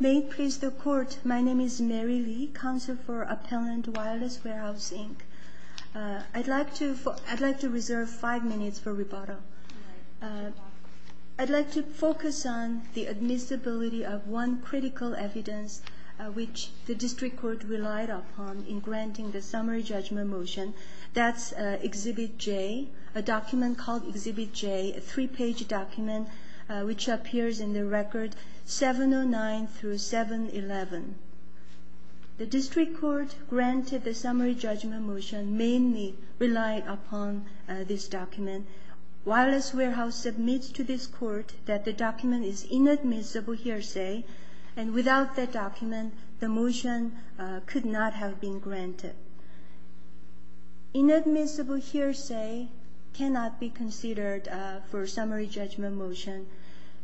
May it please the Court, my name is Mary Lee, Counsel for Appellant, Wireless Warehouse, Inc. I'd like to reserve five minutes for rebuttal. I'd like to focus on the admissibility of one critical evidence which the District Court relied upon in granting the summary judgment motion. That's Exhibit J, a document called Exhibit J, a three-page document which appears in the Record 709-711. The District Court granted the summary judgment motion mainly relying upon this document. Wireless Warehouse submits to this Court that the document is inadmissible hearsay, and without that document, the motion could not have been granted. Inadmissible hearsay cannot be considered for summary judgment motion.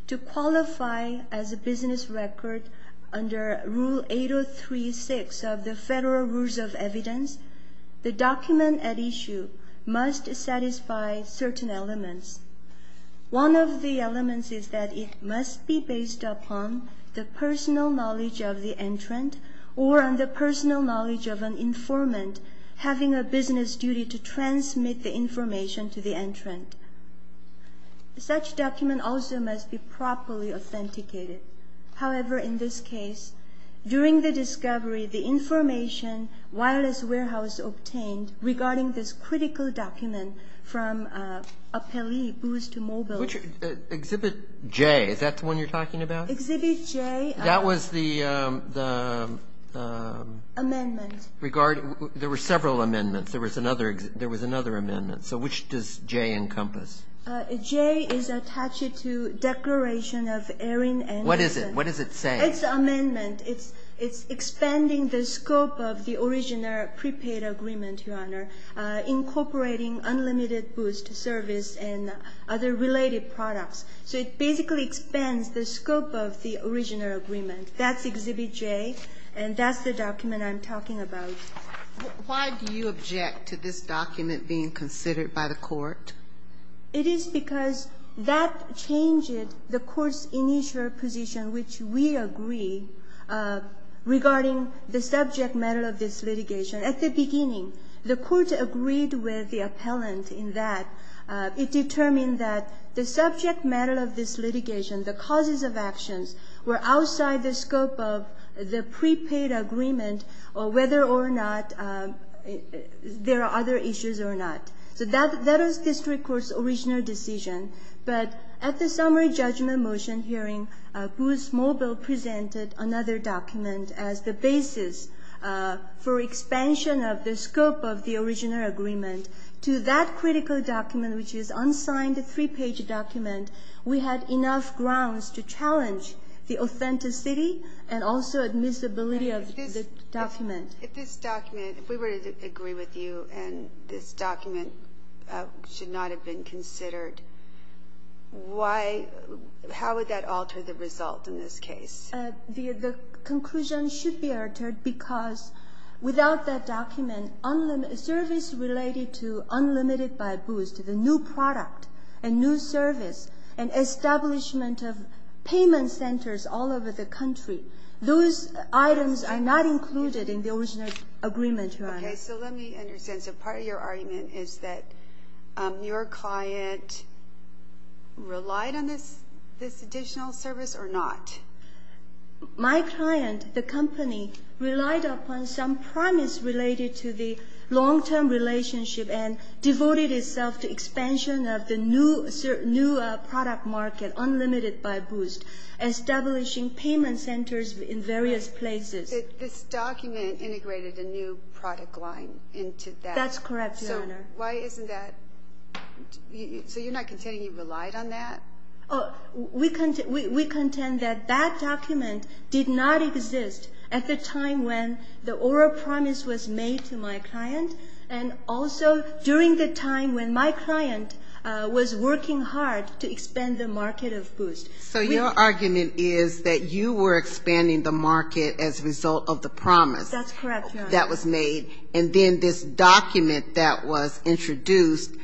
To qualify as a business record under Rule 803-6 of the Federal Rules of Evidence, the document at issue must satisfy certain elements. One of the elements is that it must be based upon the personal knowledge of the entrant or on the personal knowledge of an informant having a business duty to transmit the information to the entrant. Such document also must be properly authenticated. However, in this case, during the discovery, the information Wireless Warehouse obtained regarding this critical document from Appellee Booth to Mobile. Which Exhibit J? Is that the one you're talking about? Exhibit J. That was the regard. There were several amendments. There was another. There was another amendment. So which does J encompass? J is attached to Declaration of Airing and Dispensing. What is it? What does it say? It's an amendment. It's expanding the scope of the original prepaid agreement, Your Honor, incorporating unlimited booths to service and other related products. So it basically expands the scope of the original agreement. That's Exhibit J. And that's the document I'm talking about. Why do you object to this document being considered by the Court? It is because that changed the Court's initial position, which we agree, regarding the subject matter of this litigation. At the beginning, the Court agreed with the appellant in that it determined that the subject matter of this litigation, the causes of actions, were outside the scope of the prepaid agreement or whether or not there are other issues or not. So that was the district court's original decision. But at the summary judgment motion hearing, Booz Mobile presented another document as the basis for expansion of the scope of the original agreement to that critical document, which is unsigned, three-page document. We had enough grounds to challenge the authenticity and also admissibility of the document. If this document, if we were to agree with you and this document should not have been considered, why, how would that alter the result in this case? The conclusion should be altered because without that document, service related to Unlimited by Booz, the new product and new service and establishment of payment centers all over the country, those items are not included in the original agreement, Your Honor. Okay. So let me understand. So part of your argument is that your client relied on this additional service or not? My client, the company, relied upon some promise related to the long-term relationship and devoted itself to expansion of the new product market, Unlimited by Booz, establishing payment centers in various places. This document integrated a new product line into that. That's correct, Your Honor. So why isn't that? So you're not contending you relied on that? We contend that that document did not exist at the time when the oral promise was made to my client and also during the time when my client was working hard to expand the market of Booz. So your argument is that you were expanding the market as a result of the promise That's correct, Your Honor. And then this document that was introduced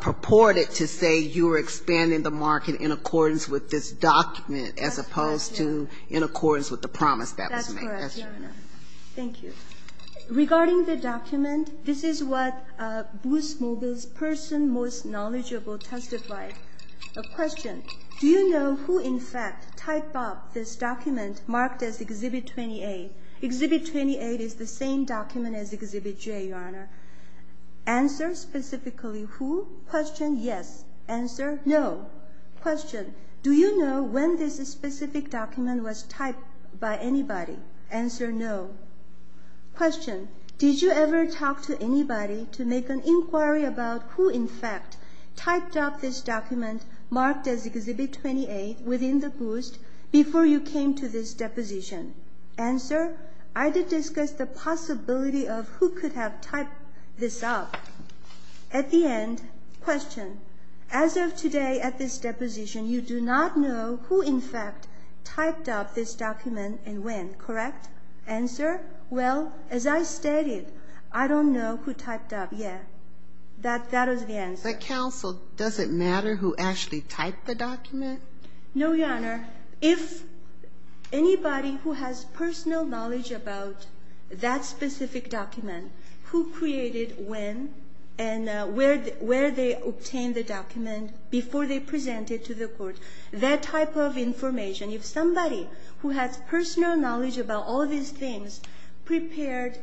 purported to say you were expanding the market in accordance with this document as opposed to in accordance with the promise that was made. That's correct, Your Honor. Thank you. Regarding the document, this is what Booz Mobile's person most knowledgeable testified. A question. Do you know who in fact typed up this document marked as Exhibit 28? Exhibit 28 is the same document as Exhibit J, Your Honor. Answer specifically who? Question, yes. Answer, no. Question. Do you know when this specific document was typed by anybody? Answer, no. Question. Did you ever talk to anybody to make an inquiry about who in fact typed up this document marked as Exhibit 28 within the Booz before you came to this deposition? Answer, I did discuss the possibility of who could have typed this up. At the end, question. As of today at this deposition, you do not know who in fact typed up this document and when, correct? Answer, well, as I stated, I don't know who typed up yet. That was the answer. But, counsel, does it matter who actually typed the document? No, Your Honor. If anybody who has personal knowledge about that specific document, who created when and where they obtained the document before they presented to the court, that type of information, if somebody who has personal knowledge about all these things prepared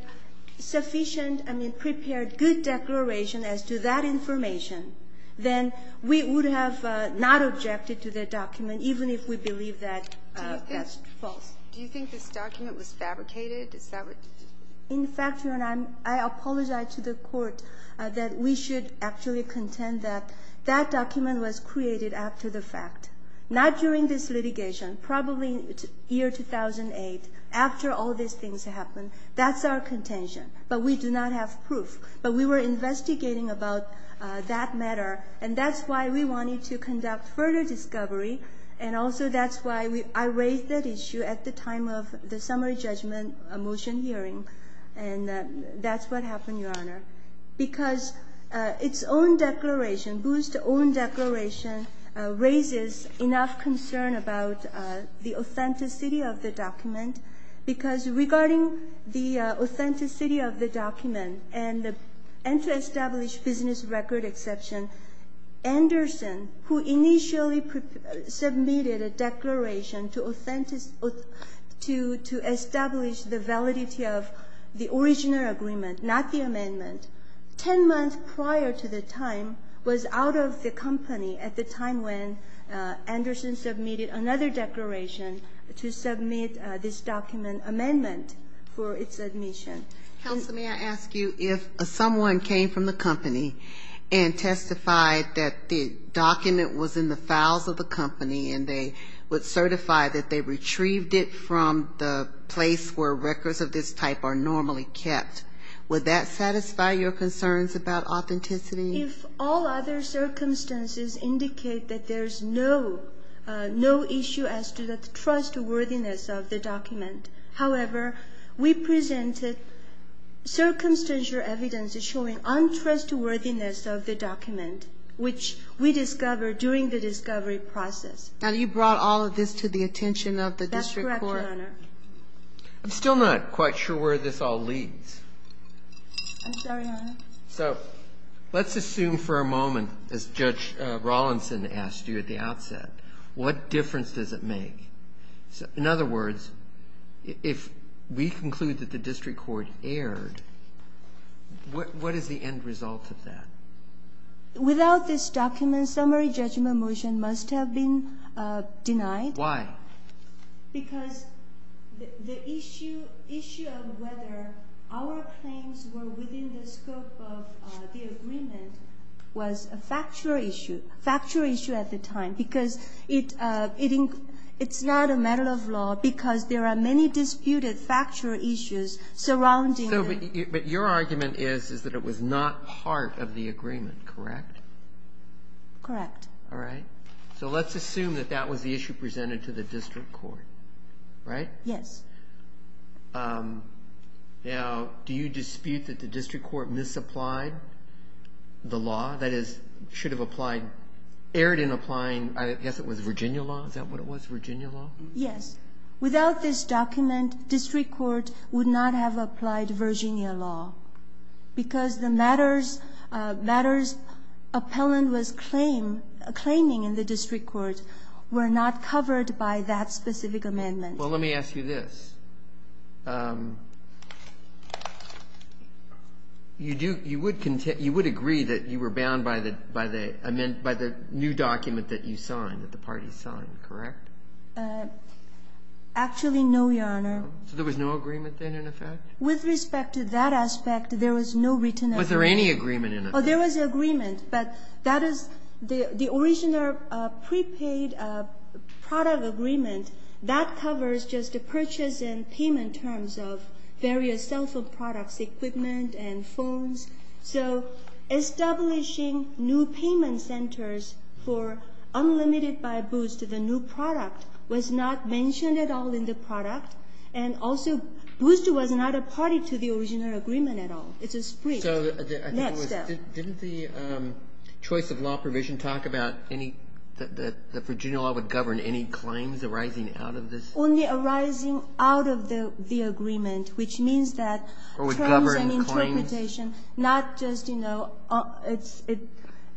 sufficient, I mean prepared good declaration as to that information, then we would have not objected to the document even if we believe that that's false. Do you think this document was fabricated? In fact, Your Honor, I apologize to the court that we should actually contend that that document was created after the fact, not during this litigation. Probably year 2008, after all these things happened. That's our contention. But we do not have proof. But we were investigating about that matter, and that's why we wanted to conduct further discovery, and also that's why I raised that issue at the time of the summary judgment motion hearing, and that's what happened, Your Honor. Because its own declaration, Booth's own declaration, raises enough concern about the authenticity of the document, because regarding the authenticity of the document and to establish business record exception, Anderson, who initially submitted a declaration to establish the validity of the original agreement, not the amendment, 10 months prior to the time was out of the company at the time when Anderson submitted another declaration to submit this document amendment for its admission. Counsel, may I ask you if someone came from the company and testified that the document was in the files of the company and they would certify that they retrieved it from the place where records of this type are normally kept. Would that satisfy your concerns about authenticity? If all other circumstances indicate that there's no issue as to the trustworthiness of the document. However, we presented circumstantial evidence showing untrustworthiness of the document, which we discovered during the discovery process. Now, you brought all of this to the attention of the district court? I'm still not quite sure where this all leads. I'm sorry, Your Honor. So let's assume for a moment, as Judge Rawlinson asked you at the outset, what difference does it make? In other words, if we conclude that the district court erred, what is the end result of that? Without this document, summary judgment motion must have been denied. Why? Because the issue of whether our claims were within the scope of the agreement was a factual issue, factual issue at the time, because it's not a matter of law because there are many disputed factual issues surrounding them. But your argument is that it was not part of the agreement, correct? Correct. All right. So let's assume that that was the issue presented to the district court, right? Yes. Now, do you dispute that the district court misapplied the law? That is, should have applied, erred in applying, I guess it was Virginia law? Is that what it was, Virginia law? Yes. Without this document, district court would not have applied Virginia law because the matters appellant was claiming in the district court were not covered by that specific amendment. Well, let me ask you this. You would agree that you were bound by the new document that you signed, that the party signed, correct? Actually, no, Your Honor. So there was no agreement then in effect? With respect to that aspect, there was no written agreement. Was there any agreement in effect? Oh, there was an agreement. But that is the original prepaid product agreement, that covers just the purchase and payment terms of various cell phone products, equipment and phones. So establishing new payment centers for Unlimited by Boost, the new product, was not mentioned at all in the product. And also, Boost was not a party to the original agreement at all. It's a split. So I think it was, didn't the choice of law provision talk about any, that Virginia law would govern any claims arising out of this? Only arising out of the agreement, which means that terms and interpretation, not just, you know,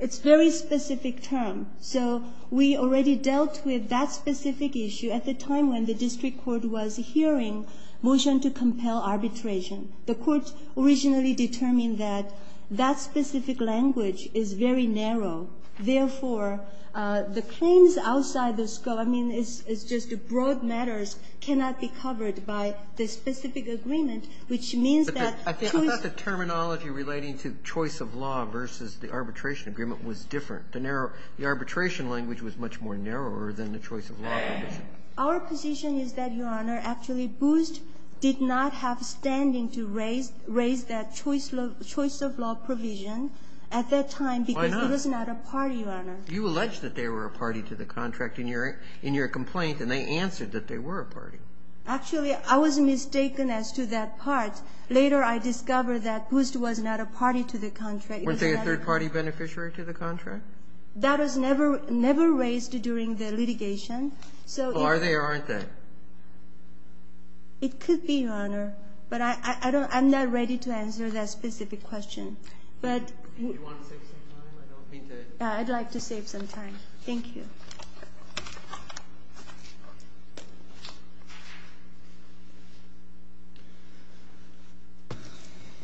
it's very specific term. So we already dealt with that specific issue at the time when the district court was hearing motion to compel arbitration. The Court originally determined that that specific language is very narrow. Therefore, the claims outside the scope, I mean, it's just broad matters, cannot be covered by the specific agreement, which means that choice of law. I thought the terminology relating to choice of law versus the arbitration agreement was different. The narrow, the arbitration language was much more narrower than the choice of law provision. Our position is that, Your Honor, actually, Boost did not have standing to raise that choice of law provision at that time because it was not a party, Your Honor. You alleged that they were a party to the contract in your complaint, and they answered that they were a party. Actually, I was mistaken as to that part. Later, I discovered that Boost was not a party to the contract. Weren't they a third-party beneficiary to the contract? That was never raised during the litigation. So if they are or aren't they? It could be, Your Honor, but I'm not ready to answer that specific question. But I'd like to save some time. Thank you.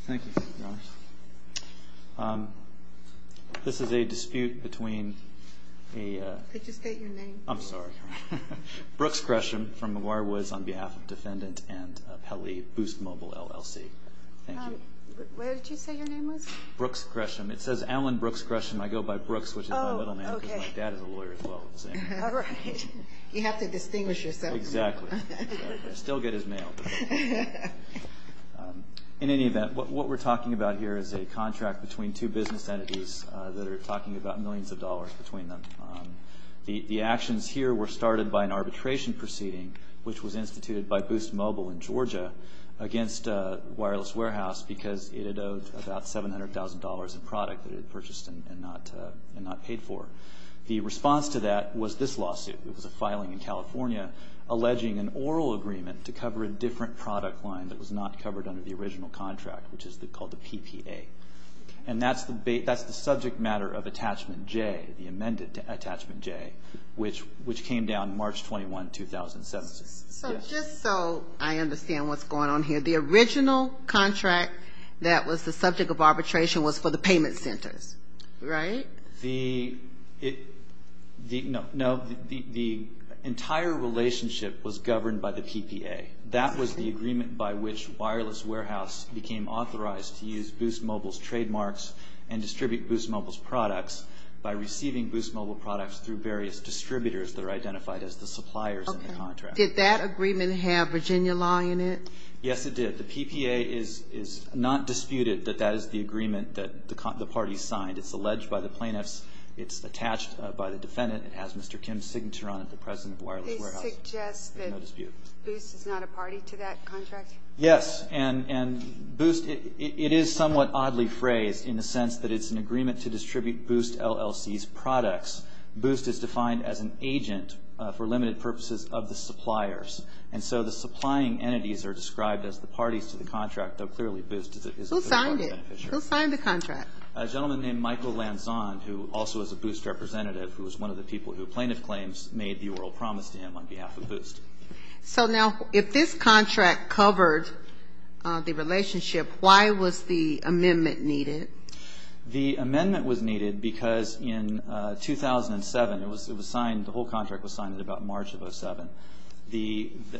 Thank you, Your Honor. This is a dispute between a... I just got your name. I'm sorry. Brooks Gresham from McGuire Woods on behalf of Defendant and Pele, Boost Mobile, LLC. Thank you. Where did you say your name was? Brooks Gresham. It says Alan Brooks Gresham. I go by Brooks, which is my middle name... Oh, okay. ...and my dad is a lawyer as well. All right. You have to distinguish yourself. Exactly. I still get his mail. In any event, what we're talking about here is a contract between two business entities that are talking about millions of dollars between them. The actions here were started by an arbitration proceeding, which was instituted by Boost Mobile in Georgia against a wireless warehouse because it had owed about $700,000 in product that it had purchased and not paid for. The response to that was this lawsuit. It was a filing in California alleging an oral agreement to cover a different product line that was not covered under the original contract, which is called the PPA. And that's the subject matter of Attachment J, the amended Attachment J, which came down March 21, 2007. So just so I understand what's going on here, the original contract that was the subject of arbitration was for the payment centers, right? The... No, the entire relationship was governed by the PPA. That was the agreement by which wireless warehouse became authorized to use Boost Mobile's trademarks and distribute Boost Mobile's products by receiving Boost Mobile products through various distributors that are identified as the suppliers in the contract. Did that agreement have Virginia law in it? Yes, it did. The PPA is not disputed that that is the agreement that the parties signed. It's alleged by the plaintiffs. It's attached by the defendant. It has Mr. Kim's signature on it, the president of wireless warehouse. They suggest that Boost is not a party to that contract? Yes, and Boost, it is somewhat oddly phrased in the sense that it's an agreement to distribute Boost LLC's products. Boost is defined as an agent for limited purposes of the suppliers. And so the supplying entities are described as the parties to the contract, though clearly Boost is a... Who signed it? Who signed the contract? A gentleman named Michael Lanzon, who also is a Boost representative, who was one of the people who plaintiff claims made the oral promise to him on behalf of Boost. So now, if this contract covered the relationship, why was the amendment needed? The amendment was needed because in 2007, it was signed, the whole contract was signed in about March of 2007.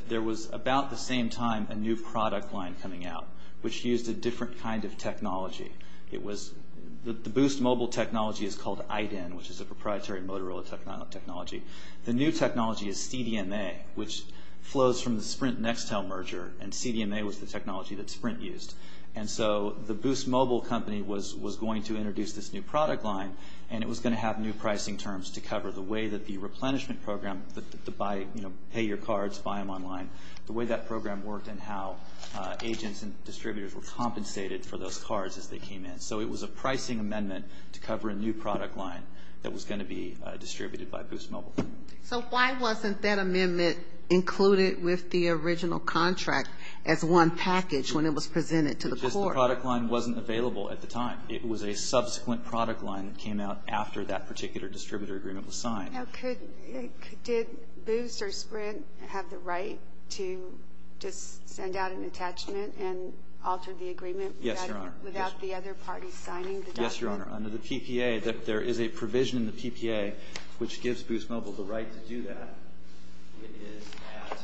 There was about the same time a new product line coming out, which used a different kind of technology. The Boost Mobile technology is called IDEN, which is a proprietary Motorola technology. The new technology is CDMA, which flows from the Sprint-Nextel merger, and CDMA was the technology that Sprint used. And so the Boost Mobile company was going to introduce this new product line, and it was going to have new pricing terms to cover the way that the replenishment program, the buy, you know, pay your cards, buy them online, the way that program worked and how agents and distributors were compensated for those cards as they came in. So it was a pricing amendment to cover a new product line that was going to be distributed by Boost Mobile. So why wasn't that amendment included with the original contract as one package when it was presented to the court? The product line wasn't available at the time. It was a subsequent product line that came out after that particular distributor agreement was signed. Now, did Boost or Sprint have the right to just send out an attachment and alter the agreement without the other parties signing the document? Yes, Your Honor. Under the PPA, there is a provision in the PPA which gives Boost Mobile the right to do that. It is at,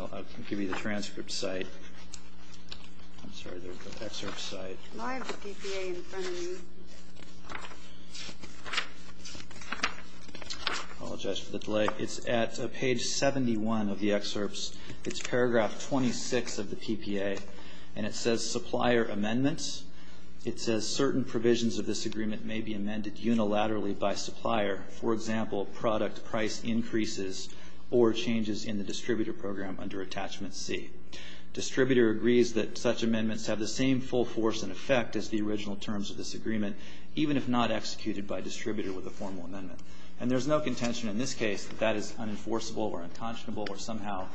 I'll give you the transcript site. I'm sorry, the excerpt site. Why is the PPA in front of you? I apologize for the delay. It's at page 71 of the excerpts. It's paragraph 26 of the PPA, and it says supplier amendments. It says certain provisions of this agreement may be amended unilaterally by supplier. For example, product price increases or changes in the distributor program under attachment C. Distributor agrees that such amendments have the same full force and effect as the original terms of this agreement, even if not executed by distributor with a formal amendment. And there's no contention in this case that that is unenforceable or unconscionable or somehow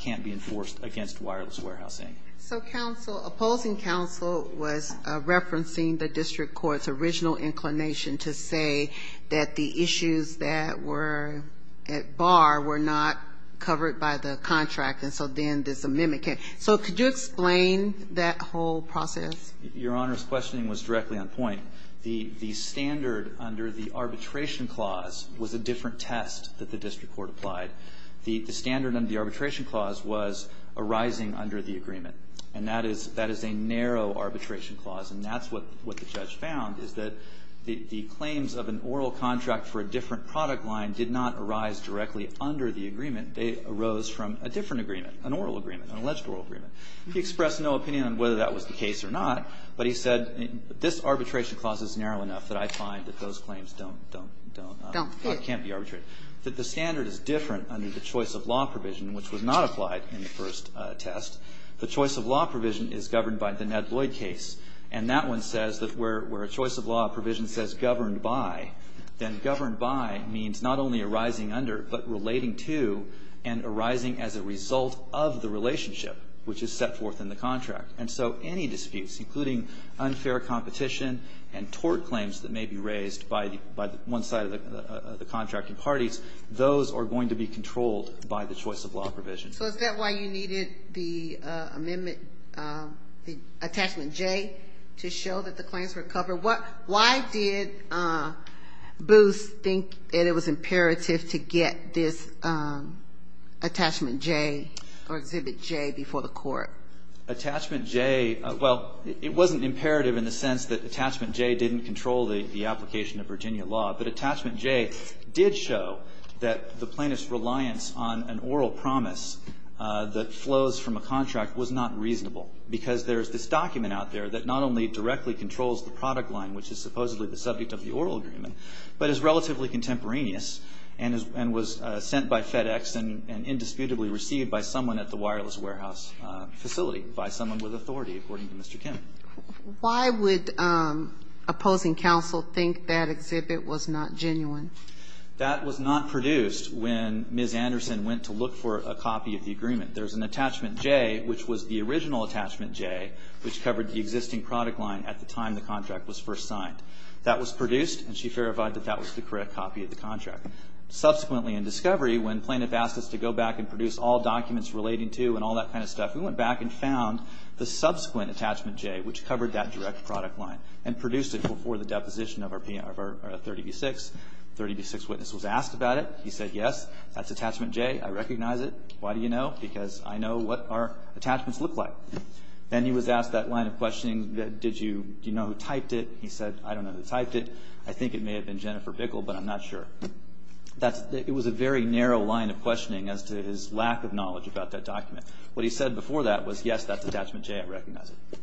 can't be enforced against wireless warehousing. So counsel, opposing counsel was referencing the district court's original inclination to say that the issues that were at bar were not covered by the contract, and so then this amendment can't. So could you explain that whole process? Your Honor's questioning was directly on point. The standard under the arbitration clause was a different test that the district court applied. The standard under the arbitration clause was arising under the agreement. And that is a narrow arbitration clause, and that's what the judge found, is that the claims of an oral contract for a different product line did not arise directly under the agreement. They arose from a different agreement, an oral agreement, an alleged oral agreement. He expressed no opinion on whether that was the case or not, but he said this arbitration clause is narrow enough that I find that those claims don't fit, can't be arbitrated. That the standard is different under the choice of law provision, which was not applied in the first test. The choice of law provision is governed by the Ned Lloyd case, and that one says that where a choice of law provision says governed by, then governed by means not only arising under, but relating to and arising as a result of the relationship which is set forth in the contract. And so any disputes, including unfair competition and tort claims that may be raised by one side of the contracting parties, those are going to be controlled by the choice of law provision. So is that why you needed the amendment, the attachment J, to show that the claims were covered? Why did Booth think that it was imperative to get this attachment J or exhibit J before the court? Attachment J, well, it wasn't imperative in the sense that attachment J didn't control the application of Virginia law, but attachment J did show that the plaintiff's reliance on an oral promise that flows from a contract was not reasonable, because there is this document out there that not only directly controls the product line, which is supposedly the subject of the oral agreement, but is relatively contemporaneous and was sent by FedEx and indisputably received by someone at the wireless warehouse facility, by someone with authority, according to Mr. Kim. Why would opposing counsel think that exhibit was not genuine? That was not produced when Ms. Anderson went to look for a copy of the agreement. There's an attachment J, which was the original attachment J, which covered the existing product line at the time the contract was first signed. That was produced, and she verified that that was the correct copy of the contract. Subsequently in discovery, when plaintiff asked us to go back and produce all documents relating to, and all that kind of stuff, we went back and found the subsequent attachment J, which covered that direct product line, and produced it before the deposition of our 30B-6. 30B-6 witness was asked about it. He said, yes, that's attachment J. I recognize it. Why do you know? Because I know what our attachments look like. Then he was asked that line of questioning, did you know who typed it? He said, I don't know who typed it. I think it may have been Jennifer Bickle, but I'm not sure. It was a very narrow line of questioning as to his lack of knowledge about that document. What he said before that was, yes, that's attachment J. I recognize it.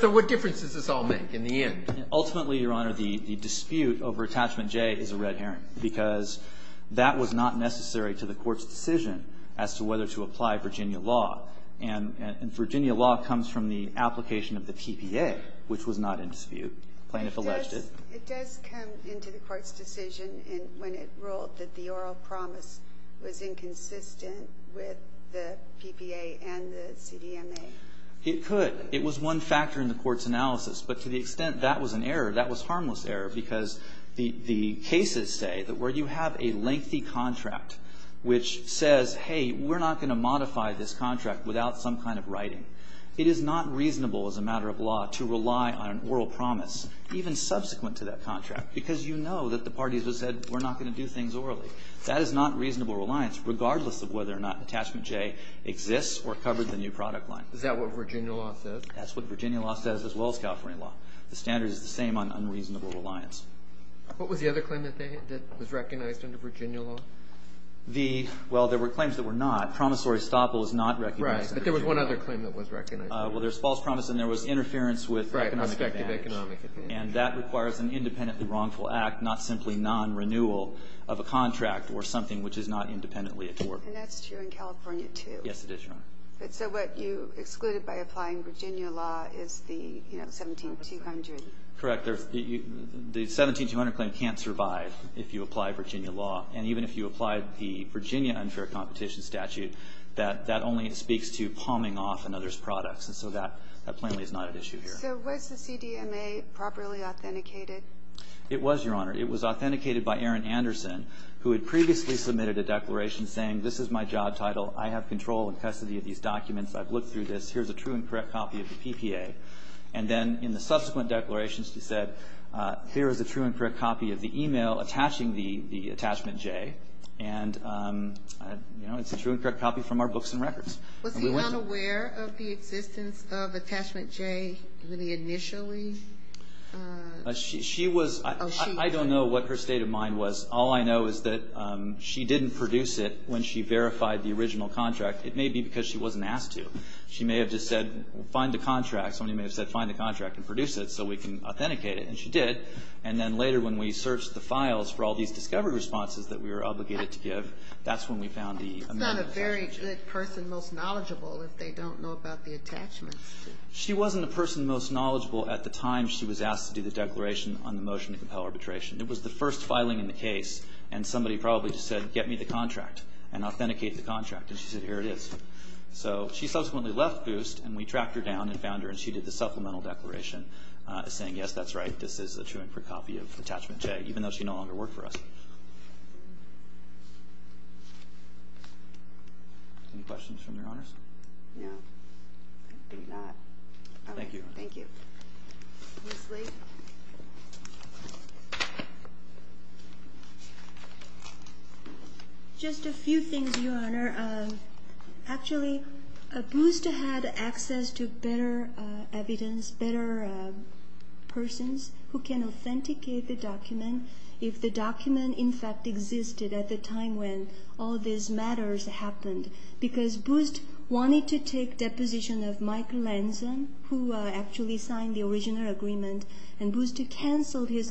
So what difference does this all make in the end? Ultimately, Your Honor, the dispute over attachment J is a red herring, because that was not necessary to the Court's decision as to whether to apply Virginia law. And Virginia law comes from the application of the PPA, which was not in dispute. Plaintiff alleged it. It does come into the Court's decision when it ruled that the oral promise was inconsistent with the PPA and the CDMA. It could. It was one factor in the Court's analysis. But to the extent that was an error, that was harmless error, because the cases say that where you have a lengthy contract which says, hey, we're not going to modify this contract without some kind of writing, it is not reasonable as a matter of law to rely on an oral promise, even subsequent to that contract, because you know that the parties have said, we're not going to do things orally. That is not reasonable reliance, regardless of whether or not attachment J exists or covered the new product line. Is that what Virginia law says? That's what Virginia law says, as well as California law. The standard is the same on unreasonable reliance. What was the other claim that was recognized under Virginia law? The – well, there were claims that were not. Promissory stop was not recognized under Virginia law. But there was one other claim that was recognized. Well, there was false promise and there was interference with economic advantage. And that requires an independently wrongful act, not simply non-renewal of a contract or something which is not independently at work. And that's true in California, too. Yes, it is, Your Honor. So what you excluded by applying Virginia law is the 17-200. Correct. The 17-200 claim can't survive if you apply Virginia law. And even if you applied the Virginia unfair competition statute, that only speaks to palming off another's products. And so that plainly is not at issue here. So was the CDMA properly authenticated? It was, Your Honor. It was authenticated by Aaron Anderson, who had previously submitted a declaration saying this is my job title, I have control and custody of these documents, I've looked through this, here's a true and correct copy of the PPA. And then in the subsequent declarations he said here is a true and correct copy of the e-mail attaching the attachment J. And, you know, it's a true and correct copy from our books and records. Was he unaware of the existence of attachment J initially? She was. I don't know what her state of mind was. All I know is that she didn't produce it when she verified the original contract. It may be because she wasn't asked to. She may have just said find the contract. Somebody may have said find the contract and produce it so we can authenticate it. And she did. And then later when we searched the files for all these discovery responses that we were obligated to give, that's when we found the amendment. That's not a very good person most knowledgeable if they don't know about the attachments. She wasn't the person most knowledgeable at the time she was asked to do the declaration on the motion to compel arbitration. It was the first filing in the case and somebody probably just said get me the contract and authenticate the contract. And she said here it is. So she subsequently left Boost and we tracked her down and found her and she did the supplemental declaration saying yes, that's right, this is a true and true copy of Attachment J, even though she no longer worked for us. Any questions from Your Honors? No. I think not. Thank you. Thank you. Ms. Lee. Just a few things, Your Honor. Actually, Boost had access to better evidence, better persons who can authenticate the document if the document in fact existed at the time when all these matters happened. Because Boost wanted to take deposition of Mike Lanson, who actually signed the original agreement, and Boost canceled his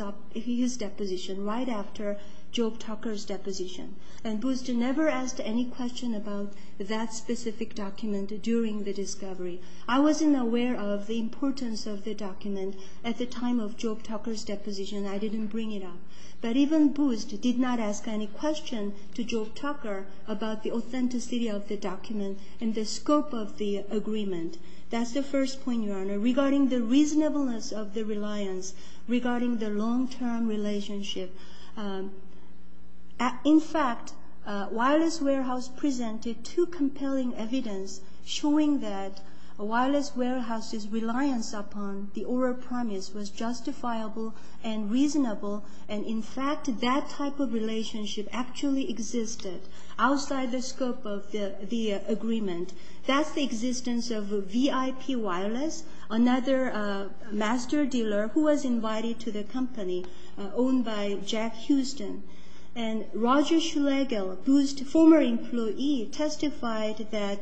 deposition right after Job Tucker's deposition. And Boost never asked any question about that specific document during the discovery. I wasn't aware of the importance of the document at the time of Job Tucker's deposition. I didn't bring it up. But even Boost did not ask any question to Job Tucker about the authenticity of the document and the scope of the agreement. That's the first point, Your Honor, regarding the reasonableness of the reliance, regarding the long-term relationship. In fact, Wireless Warehouse presented two compelling evidence showing that Wireless Warehouse's reliance upon the oral promise was justifiable and reasonable. And, in fact, that type of relationship actually existed outside the scope of the agreement. That's the existence of VIP Wireless, another master dealer who was invited to the company owned by Jack Houston. And Roger Schlegel, Boost's former employee, testified that,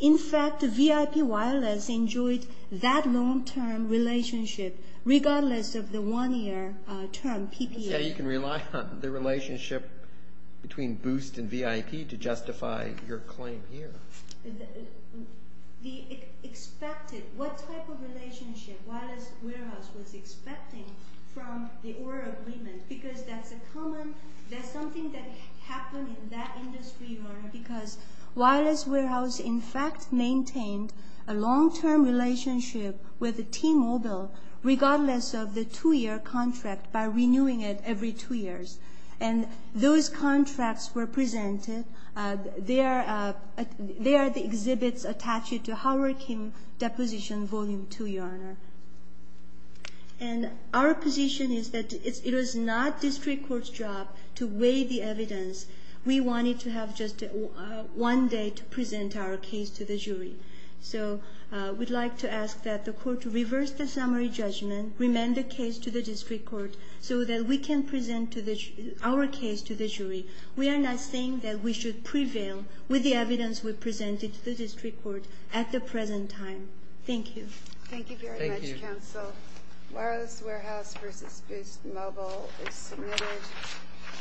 in fact, VIP Wireless enjoyed that long-term relationship regardless of the one-year term PPA. So you can rely on the relationship between Boost and VIP to justify your claim here. The expected, what type of relationship Wireless Warehouse was expecting from the oral agreement, because that's something that happened in that industry, Your Honor, because Wireless Warehouse, in fact, maintained a long-term relationship with T-Mobile regardless of the two-year contract by renewing it every two years. And those contracts were presented. They are the exhibits attached to Hurricane Deposition Volume 2, Your Honor. And our position is that it was not district court's job to weigh the evidence. We wanted to have just one day to present our case to the jury. So we'd like to ask that the court reverse the summary judgment, remand the case to the district court so that we can present our case to the jury. We are not saying that we should prevail with the evidence we presented to the district court at the present time. Thank you. Thank you very much, counsel. Wireless Warehouse v. Boost Mobile is submitted.